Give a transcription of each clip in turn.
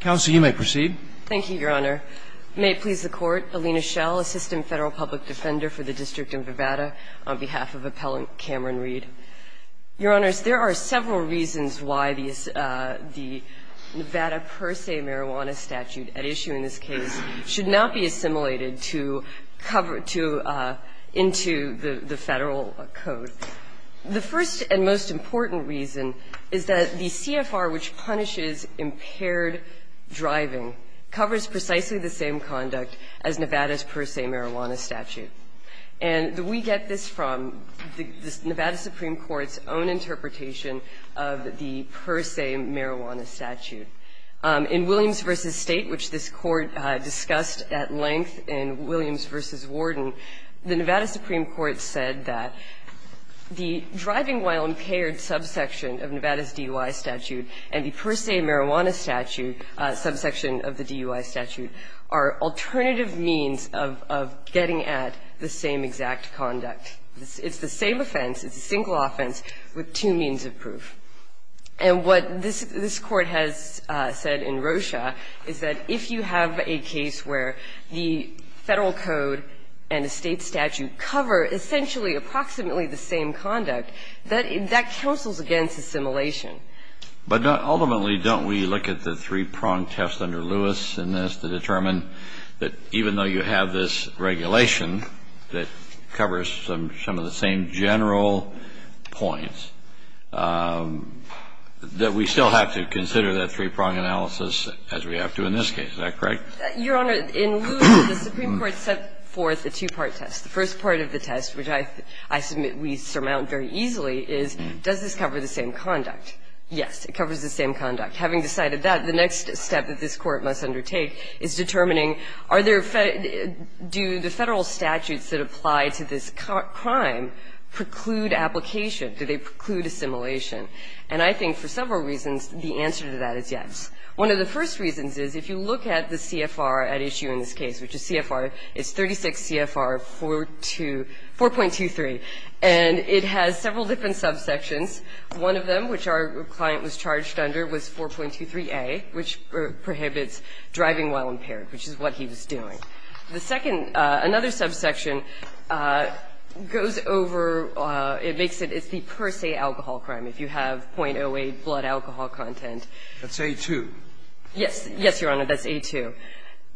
Counsel, you may proceed. Thank you, Your Honor. May it please the Court, Alina Schell, Assistant Federal Public Defender for the District of Nevada, on behalf of Appellant Cameron Reed. Your Honors, there are several reasons why the Nevada Per Se Marijuana Statute at issue in this case should not be assimilated into the Federal Code. The first and most important reason is that the CFR, which punishes impaired driving, covers precisely the same conduct as Nevada's Per Se Marijuana Statute. And we get this from the Nevada Supreme Court's own interpretation of the Per Se Marijuana Statute. In Williams v. State, which this Court discussed at length in Williams v. Warden, the Nevada Supreme Court said that the driving while impaired subsection of Nevada's DUI statute and the Per Se Marijuana statute, subsection of the DUI statute, are alternative means of getting at the same exact conduct. It's the same offense. It's a single offense with two means of proof. And what this Court has said in Rocha is that if you have a case where the Federal Code and a State statute cover essentially approximately the same conduct, that counsels against assimilation. But ultimately, don't we look at the three-prong test under Lewis in this to determine that even though you have this regulation that covers some of the same general points, that we still have to consider that three-prong analysis as we have to in this case. Is that correct? Your Honor, in Lewis, the Supreme Court set forth a two-part test. The first part of the test, which I submit we surmount very easily, is does this cover the same conduct? Yes, it covers the same conduct. Having decided that, the next step that this Court must undertake is determining are there Fed – do the Federal statutes that apply to this crime preclude application? Do they preclude assimilation? And I think for several reasons, the answer to that is yes. One of the first reasons is if you look at the CFR at issue in this case, which is CFR, it's 36 CFR 4.23, and it has several different subsections. One of them, which our client was charged under, was 4.23a, which prohibits driving while impaired, which is what he was doing. The second, another subsection, goes over – it makes it – it's the per se alcohol crime, if you have .08 blood alcohol content. That's A2. Yes. Yes, Your Honor, that's A2.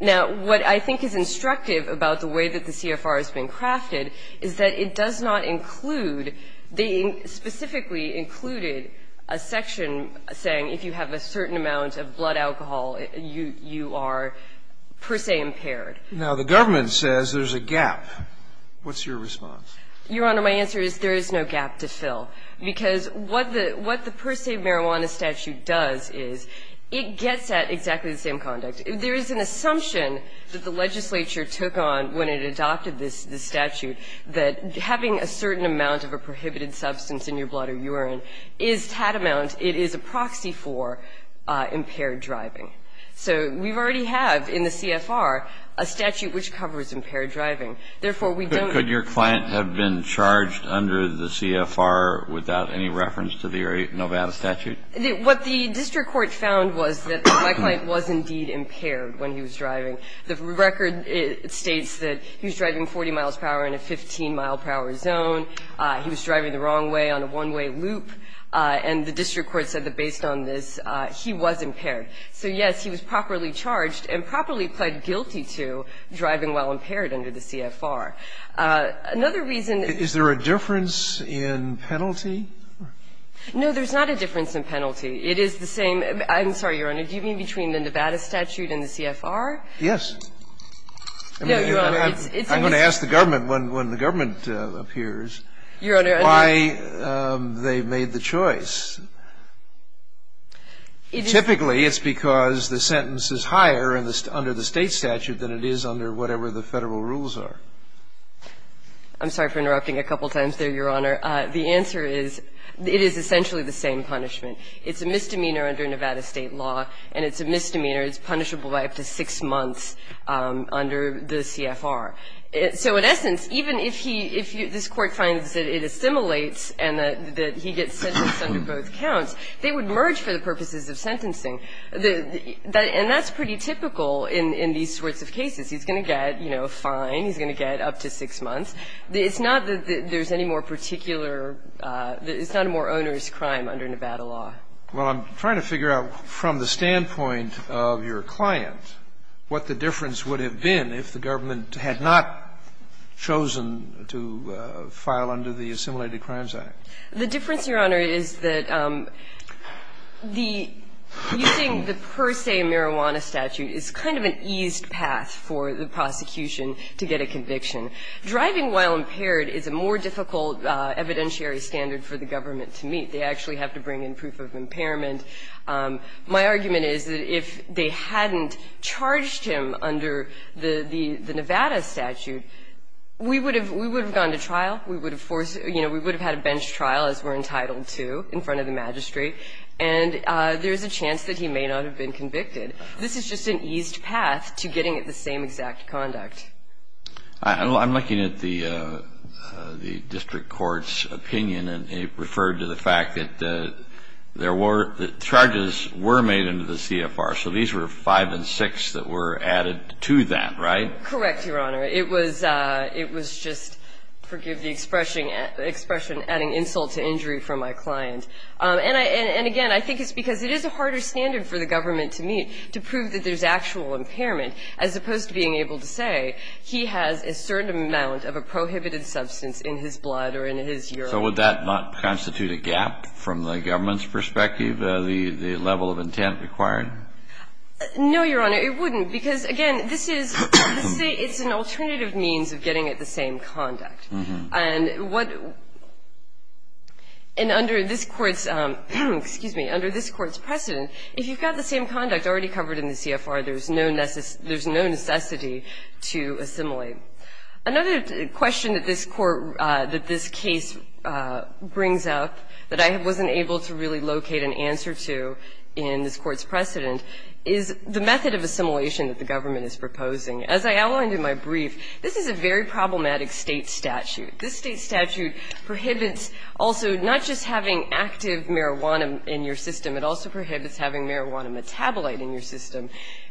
Now, what I think is instructive about the way that the CFR has been crafted is that it does not include – they specifically included a section saying if you have a certain amount of blood alcohol, you are per se impaired. Now, the government says there's a gap. What's your response? Your Honor, my answer is there is no gap to fill, because what the – what the per se marijuana statute does is it gets at exactly the same conduct. There is an assumption that the legislature took on when it adopted this statute that having a certain amount of a prohibited substance in your blood or urine is tatamount – it is a proxy for impaired driving. So we already have in the CFR a statute which covers impaired driving. Therefore, we don't – Could your client have been charged under the CFR without any reference to the per se marijuana statute? What the district court found was that my client was indeed impaired when he was driving. The record states that he was driving 40 miles per hour in a 15-mile-per-hour zone. He was driving the wrong way on a one-way loop. And the district court said that based on this, he was impaired. So, yes, he was properly charged and properly pled guilty to driving while impaired under the CFR. Another reason that the CFR does not include a section saying if you have a certain No, there's not a difference in penalty. It is the same – I'm sorry, Your Honor. Do you mean between the Nevada statute and the CFR? Yes. No, Your Honor. I'm going to ask the government, when the government appears, why they made the choice. Typically, it's because the sentence is higher under the State statute than it is under whatever the Federal rules are. I'm sorry for interrupting a couple times there, Your Honor. The answer is, it is essentially the same punishment. It's a misdemeanor under Nevada State law, and it's a misdemeanor. It's punishable by up to six months under the CFR. So in essence, even if he – if this Court finds that it assimilates and that he gets sentenced under both counts, they would merge for the purposes of sentencing. And that's pretty typical in these sorts of cases. He's going to get, you know, fine. He's going to get up to six months. It's not that there's any more particular – it's not a more onerous crime under Nevada law. Well, I'm trying to figure out from the standpoint of your client what the difference would have been if the government had not chosen to file under the Assimilated Crimes Act. The difference, Your Honor, is that the – using the per se marijuana statute is kind of an eased path for the prosecution to get a conviction. Driving while impaired is a more difficult evidentiary standard for the government to meet. They actually have to bring in proof of impairment. My argument is that if they hadn't charged him under the Nevada statute, we would have – we would have gone to trial. We would have forced – you know, we would have had a bench trial, as we're entitled to, in front of the magistrate. And there's a chance that he may not have been convicted. This is just an eased path to getting the same exact conduct. I'm looking at the district court's opinion, and it referred to the fact that there were – that charges were made under the CFR. So these were 5 and 6 that were added to that, right? Correct, Your Honor. It was – it was just – forgive the expression – expression adding insult to injury from my client. And I – and again, I think it's because it is a harder standard for the government to meet to prove that there's actual impairment, as opposed to being able to say, okay, he has a certain amount of a prohibited substance in his blood or in his urine. So would that not constitute a gap from the government's perspective, the level of intent required? No, Your Honor, it wouldn't, because, again, this is – it's an alternative means of getting at the same conduct. And what – and under this Court's – excuse me, under this Court's precedent, if you've got the same conduct already covered in the CFR, there's no necessity to assimilate. Another question that this Court – that this case brings up that I wasn't able to really locate an answer to in this Court's precedent is the method of assimilation that the government is proposing. As I outlined in my brief, this is a very problematic state statute. This state statute prohibits also not just having active marijuana in your system, it also prohibits having marijuana metabolite in your system.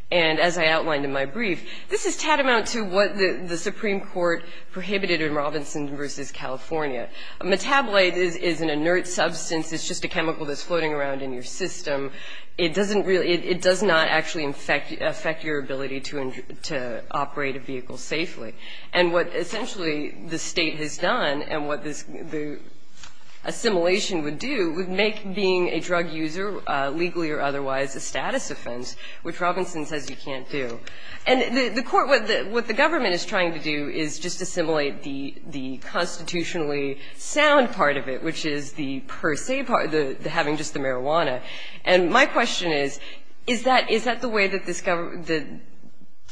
And as I outlined in my brief, this is tatamount to what the Supreme Court prohibited in Robinson v. California. A metabolite is an inert substance. It's just a chemical that's floating around in your system. It doesn't really – it does not actually affect your ability to operate a vehicle safely. And what essentially the state has done and what this – the assimilation would do would make being a drug user, legally or otherwise, a status offense, which Robinson says you can't do. And the Court – what the government is trying to do is just assimilate the constitutionally sound part of it, which is the per se part, the having just the marijuana. And my question is, is that the way that this – that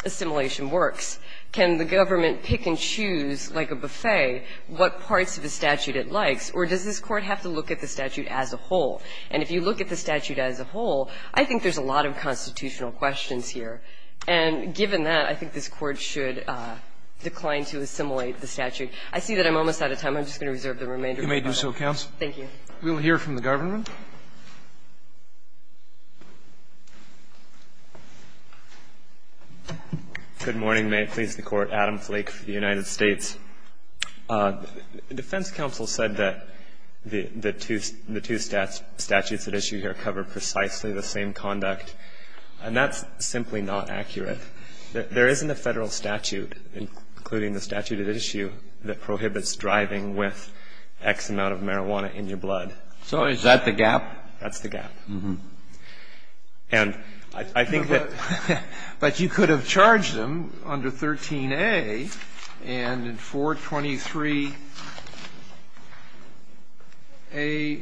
assimilation works? Can the government pick and choose, like a buffet, what parts of the statute it likes? Or does this Court have to look at the statute as a whole? And if you look at the statute as a whole, I think there's a lot of constitutional questions here. And given that, I think this Court should decline to assimilate the statute. I see that I'm almost out of time. I'm just going to reserve the remainder of my time. Roberts,, you may do so, counsel. Thank you. We'll hear from the government. Good morning. May it please the Court. Adam Flake for the United States. Defense counsel said that the two statutes at issue here cover precisely the same conduct. And that's simply not accurate. There isn't a Federal statute, including the statute at issue, that prohibits driving with X amount of marijuana in your blood. So is that the gap? That's the gap. And I think that – But you could have charged him under 13a and in 423a-1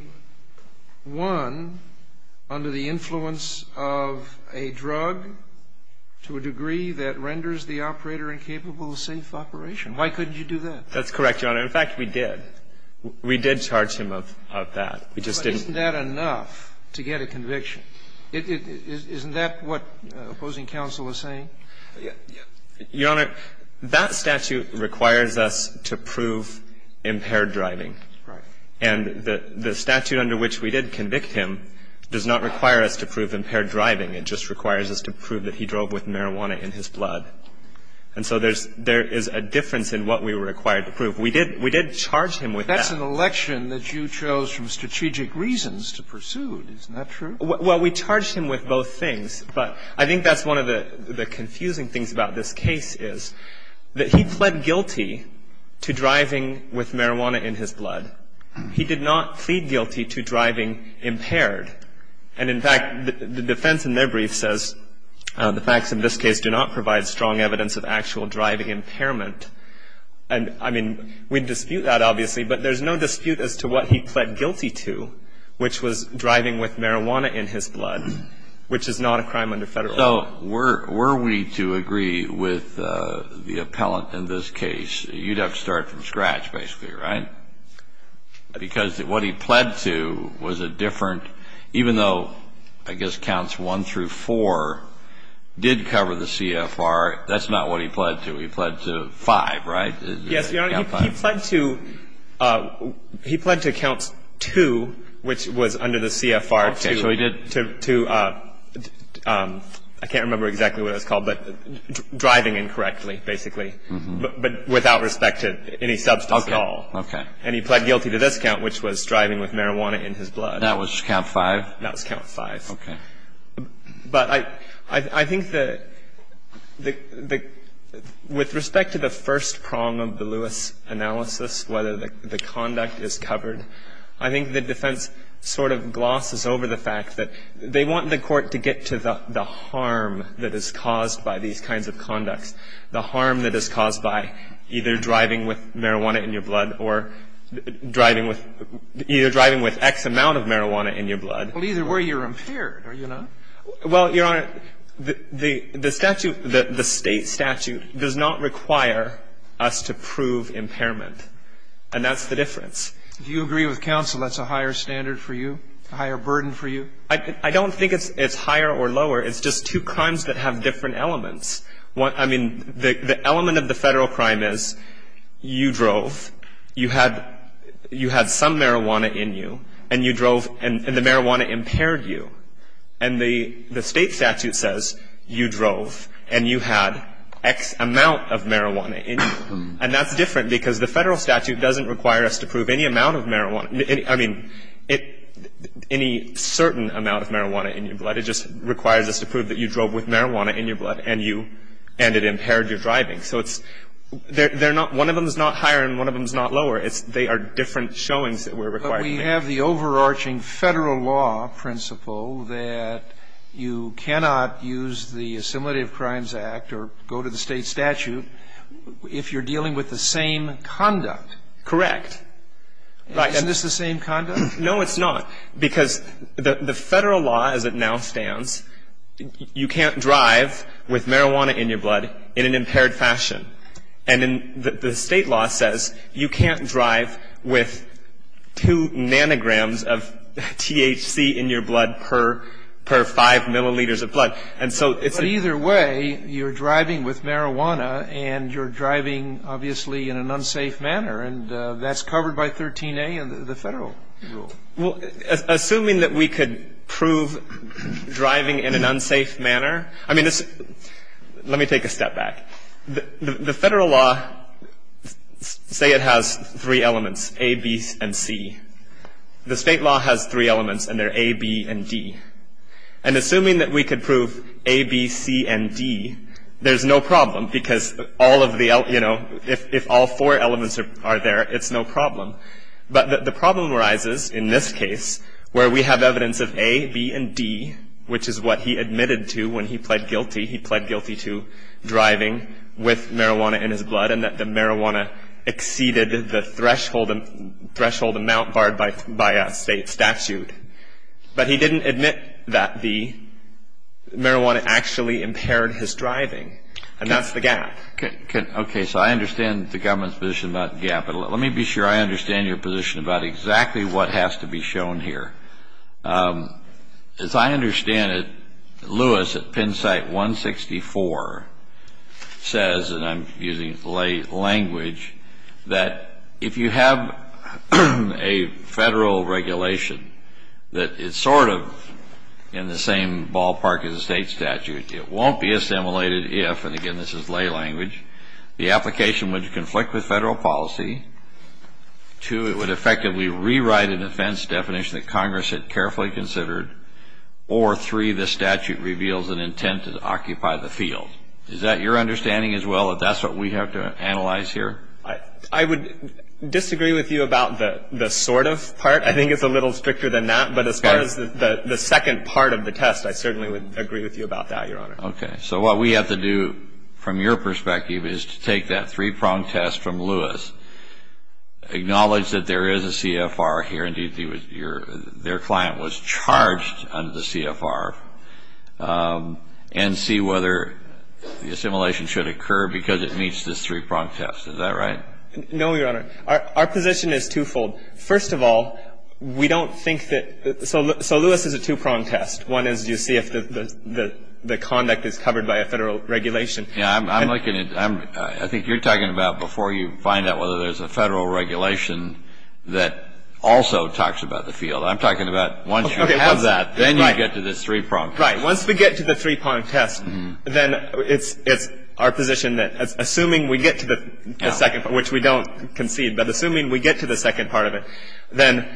under the influence of a drug to a degree that renders the operator incapable of safe operation. Why couldn't you do that? That's correct, Your Honor. In fact, we did. We did charge him of that. We just didn't – But isn't that enough to get a conviction? Isn't that what opposing counsel is saying? Your Honor, that statute requires us to prove impaired driving. Right. And the statute under which we did convict him does not require us to prove impaired driving. It just requires us to prove that he drove with marijuana in his blood. And so there's – there is a difference in what we were required to prove. We did charge him with that. That's an election that you chose from strategic reasons to pursue. Isn't that true? Well, we charged him with both things. But I think that's one of the confusing things about this case is that he pled guilty to driving with marijuana in his blood. He did not plead guilty to driving impaired. And in fact, the defense in their brief says the facts in this case do not provide strong evidence of actual driving impairment. And I mean, we'd dispute that, obviously, but there's no dispute as to what he was driving with marijuana in his blood, which is not a crime under federal law. So were we to agree with the appellant in this case, you'd have to start from scratch, basically, right? Because what he pled to was a different – even though, I guess, counts one through four did cover the CFR, that's not what he pled to. He pled to five, right? Yes, Your Honor. He pled to – he pled to count two, which was under the CFR, to – Okay, so he did – To – I can't remember exactly what it was called, but driving incorrectly, basically, but without respect to any substance at all. Okay. And he pled guilty to this count, which was driving with marijuana in his blood. That was count five? That was count five. Okay. But I – I think that the – with respect to the first prong of the Lewis analysis, whether the conduct is covered, I think the defense sort of glosses over the fact that they want the Court to get to the harm that is caused by these kinds of conducts, the harm that is caused by either driving with marijuana in your blood or driving with – either driving with X amount of marijuana in your blood. Well, either way, you're impaired, are you not? Well, Your Honor, the statute – the state statute does not require us to prove impairment, and that's the difference. Do you agree with counsel that's a higher standard for you, a higher burden for you? I don't think it's higher or lower. It's just two crimes that have different elements. I mean, the element of the Federal crime is you drove, you had – you had some marijuana in you, and you drove – and the marijuana impaired you. And the state statute says you drove and you had X amount of marijuana in you. And that's different because the Federal statute doesn't require us to prove any amount of marijuana – I mean, any certain amount of marijuana in your blood. It just requires us to prove that you drove with marijuana in your blood and you – and it impaired your driving. So it's – they're not – one of them is not higher and one of them is not lower. It's – they are different showings that we're required to make. But we have the overarching Federal law principle that you cannot use the Assimilative Crimes Act or go to the state statute if you're dealing with the same conduct. Correct. Right. Isn't this the same conduct? No, it's not. Because the Federal law as it now stands, you can't drive with marijuana in your blood in an impaired fashion. And in – the state law says you can't drive with two nanograms of THC in your blood per five milliliters of blood. And so it's – But either way, you're driving with marijuana and you're driving, obviously, in an unsafe manner. And that's covered by 13A in the Federal rule. Assuming that we could prove driving in an unsafe manner – I mean, let me take a step back. The Federal law – say it has three elements, A, B, and C. The state law has three elements, and they're A, B, and D. And assuming that we could prove A, B, C, and D, there's no problem because all of the – you know, if all four elements are there, it's no problem. But the problem arises, in this case, where we have evidence of A, B, and D, which is what he admitted to when he pled guilty. He pled guilty to driving with marijuana in his blood and that the marijuana exceeded the threshold amount barred by a state statute. But he didn't admit that the marijuana actually impaired his driving. And that's the gap. Okay. So I understand the government's position about the gap. But let me be sure I understand your position about exactly what has to be shown here. As I understand it, Lewis at Penn State 164 says – and I'm using lay language – that if you have a Federal regulation that is sort of in the same ballpark as a state statute, it won't be assimilated if – and again, this is lay language – the application would conflict with Federal policy, two, it would effectively rewrite a defense definition that Congress had carefully considered, or three, the statute reveals an intent to occupy the field. Is that your understanding as well, that that's what we have to analyze here? I would disagree with you about the sort of part. I think it's a little stricter than that. But as far as the second part of the test, I certainly would agree with you about that, Your Honor. Okay. So what we have to do from your perspective is to take that three-pronged test from Lewis, acknowledge that there is a CFR here, indeed their client was charged under the CFR, and see whether the assimilation should occur because it meets this three-pronged test. Is that right? No, Your Honor. Our position is twofold. First of all, we don't think that – so Lewis is a two-pronged test. One is you see if the conduct is covered by a federal regulation. Yeah, I'm looking at – I think you're talking about before you find out whether there's a federal regulation that also talks about the field. I'm talking about once you have that, then you get to the three-pronged test. Right. Once we get to the three-pronged test, then it's our position that assuming we get to the second part, which we don't concede, but assuming we get to the second part of it, then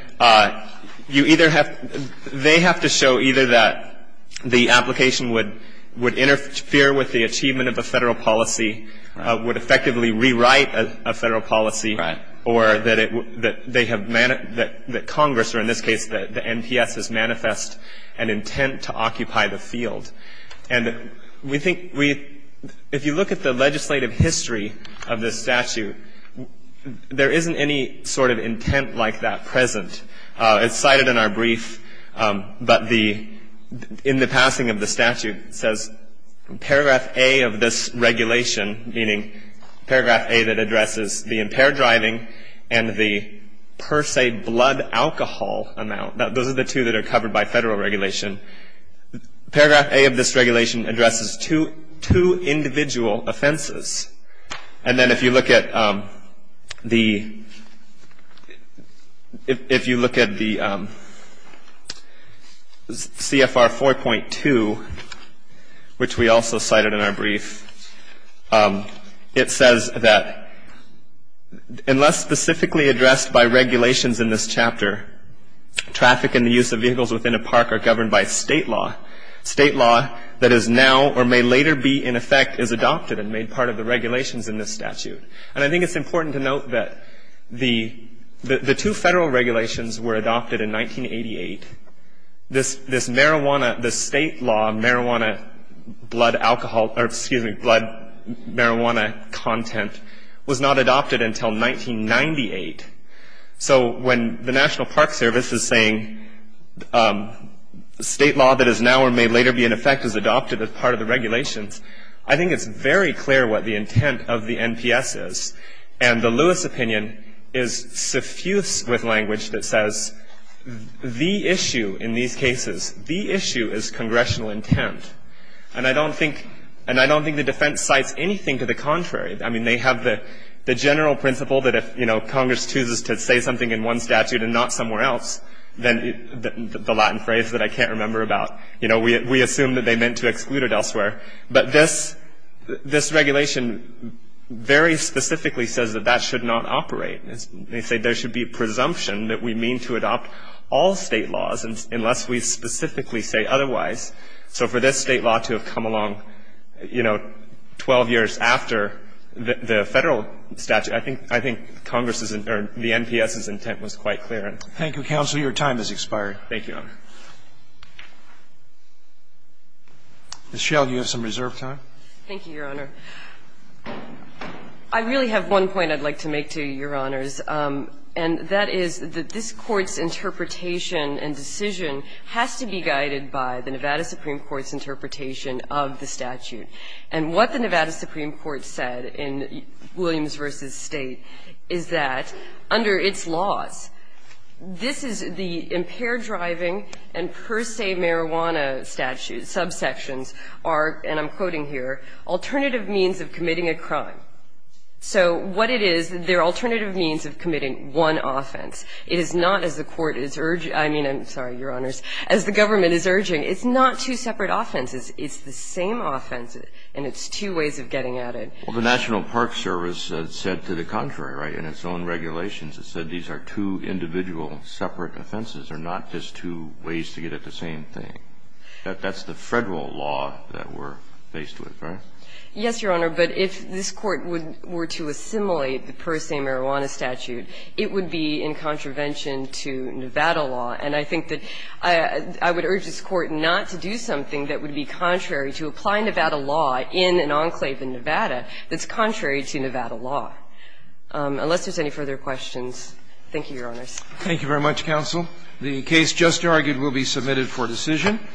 you either have – they have to show either that the application would interfere with the achievement of a federal policy, would effectively rewrite a federal policy, or that they have – that Congress, or in this case, the NPS has manifest an intent to occupy the field. And we think we – if you look at the legislative history of this statute, there isn't any sort of intent like that present. It's cited in our brief, but the – in the passing of the statute, says paragraph A of this regulation, meaning paragraph A that addresses the impaired driving and the per se blood alcohol amount – those are the two that are covered by federal regulation. Paragraph A of this regulation addresses two individual offenses. And then if you look at the – if you look at the CFR 4.2, which we also cited in our brief, it says that unless specifically addressed by regulations in this chapter, traffic and the use of vehicles within a park are governed by state law. State law that is now or may later be in effect is adopted and made part of the regulations in this statute. And I think it's important to note that the two federal regulations were adopted in 1988. This marijuana – the state law marijuana blood alcohol – or excuse me, blood marijuana content was not adopted until 1998. So when the National Park Service is saying state law that is now or may later be in effect is adopted as part of the regulations, I think it's very clear what the intent of the NPS is. And the Lewis opinion is suffuse with language that says the issue in these cases, the issue is congressional intent. And I don't think – and I don't think the defense cites anything to the contrary. I mean, they have the general principle that if, you know, Congress chooses to say something in one statute and not somewhere else, then the Latin phrase that I can't remember about, you know, we assume that they meant to exclude it elsewhere. But this regulation very specifically says that that should not operate. They say there should be presumption that we mean to adopt all state laws unless we specifically say otherwise. So for this state law to have come along, you know, 12 years after the Federal statute, I think Congress's – or the NPS's intent was quite clear. Thank you, counsel. Your time has expired. Thank you, Your Honor. Ms. Schell, you have some reserve time. Thank you, Your Honor. I really have one point I'd like to make to you, Your Honors, and that is that this Court's interpretation and decision has to be guided by the Nevada Supreme Court's interpretation of the statute. And what the Nevada Supreme Court said in Williams v. State is that under its laws, this is the impaired driving and per se marijuana statute subsections are, and I'm quoting here, alternative means of committing a crime. So what it is, they're alternative means of committing one offense. It is not, as the Court is urging – I mean, I'm sorry, Your Honors, as the government is urging – it's not two separate offenses. It's the same offense, and it's two ways of getting at it. Well, the National Park Service said to the contrary, right, in its own regulations. It said these are two individual separate offenses. They're not just two ways to get at the same thing. That's the Federal law that we're faced with, right? Yes, Your Honor. But if this Court were to assimilate the per se marijuana statute, it would be in contravention to Nevada law. And I think that I would urge this Court not to do something that would be contrary to applying Nevada law in an enclave in Nevada that's contrary to Nevada law. Unless there's any further questions, thank you, Your Honors. Thank you very much, counsel. The case just argued will be submitted for decision.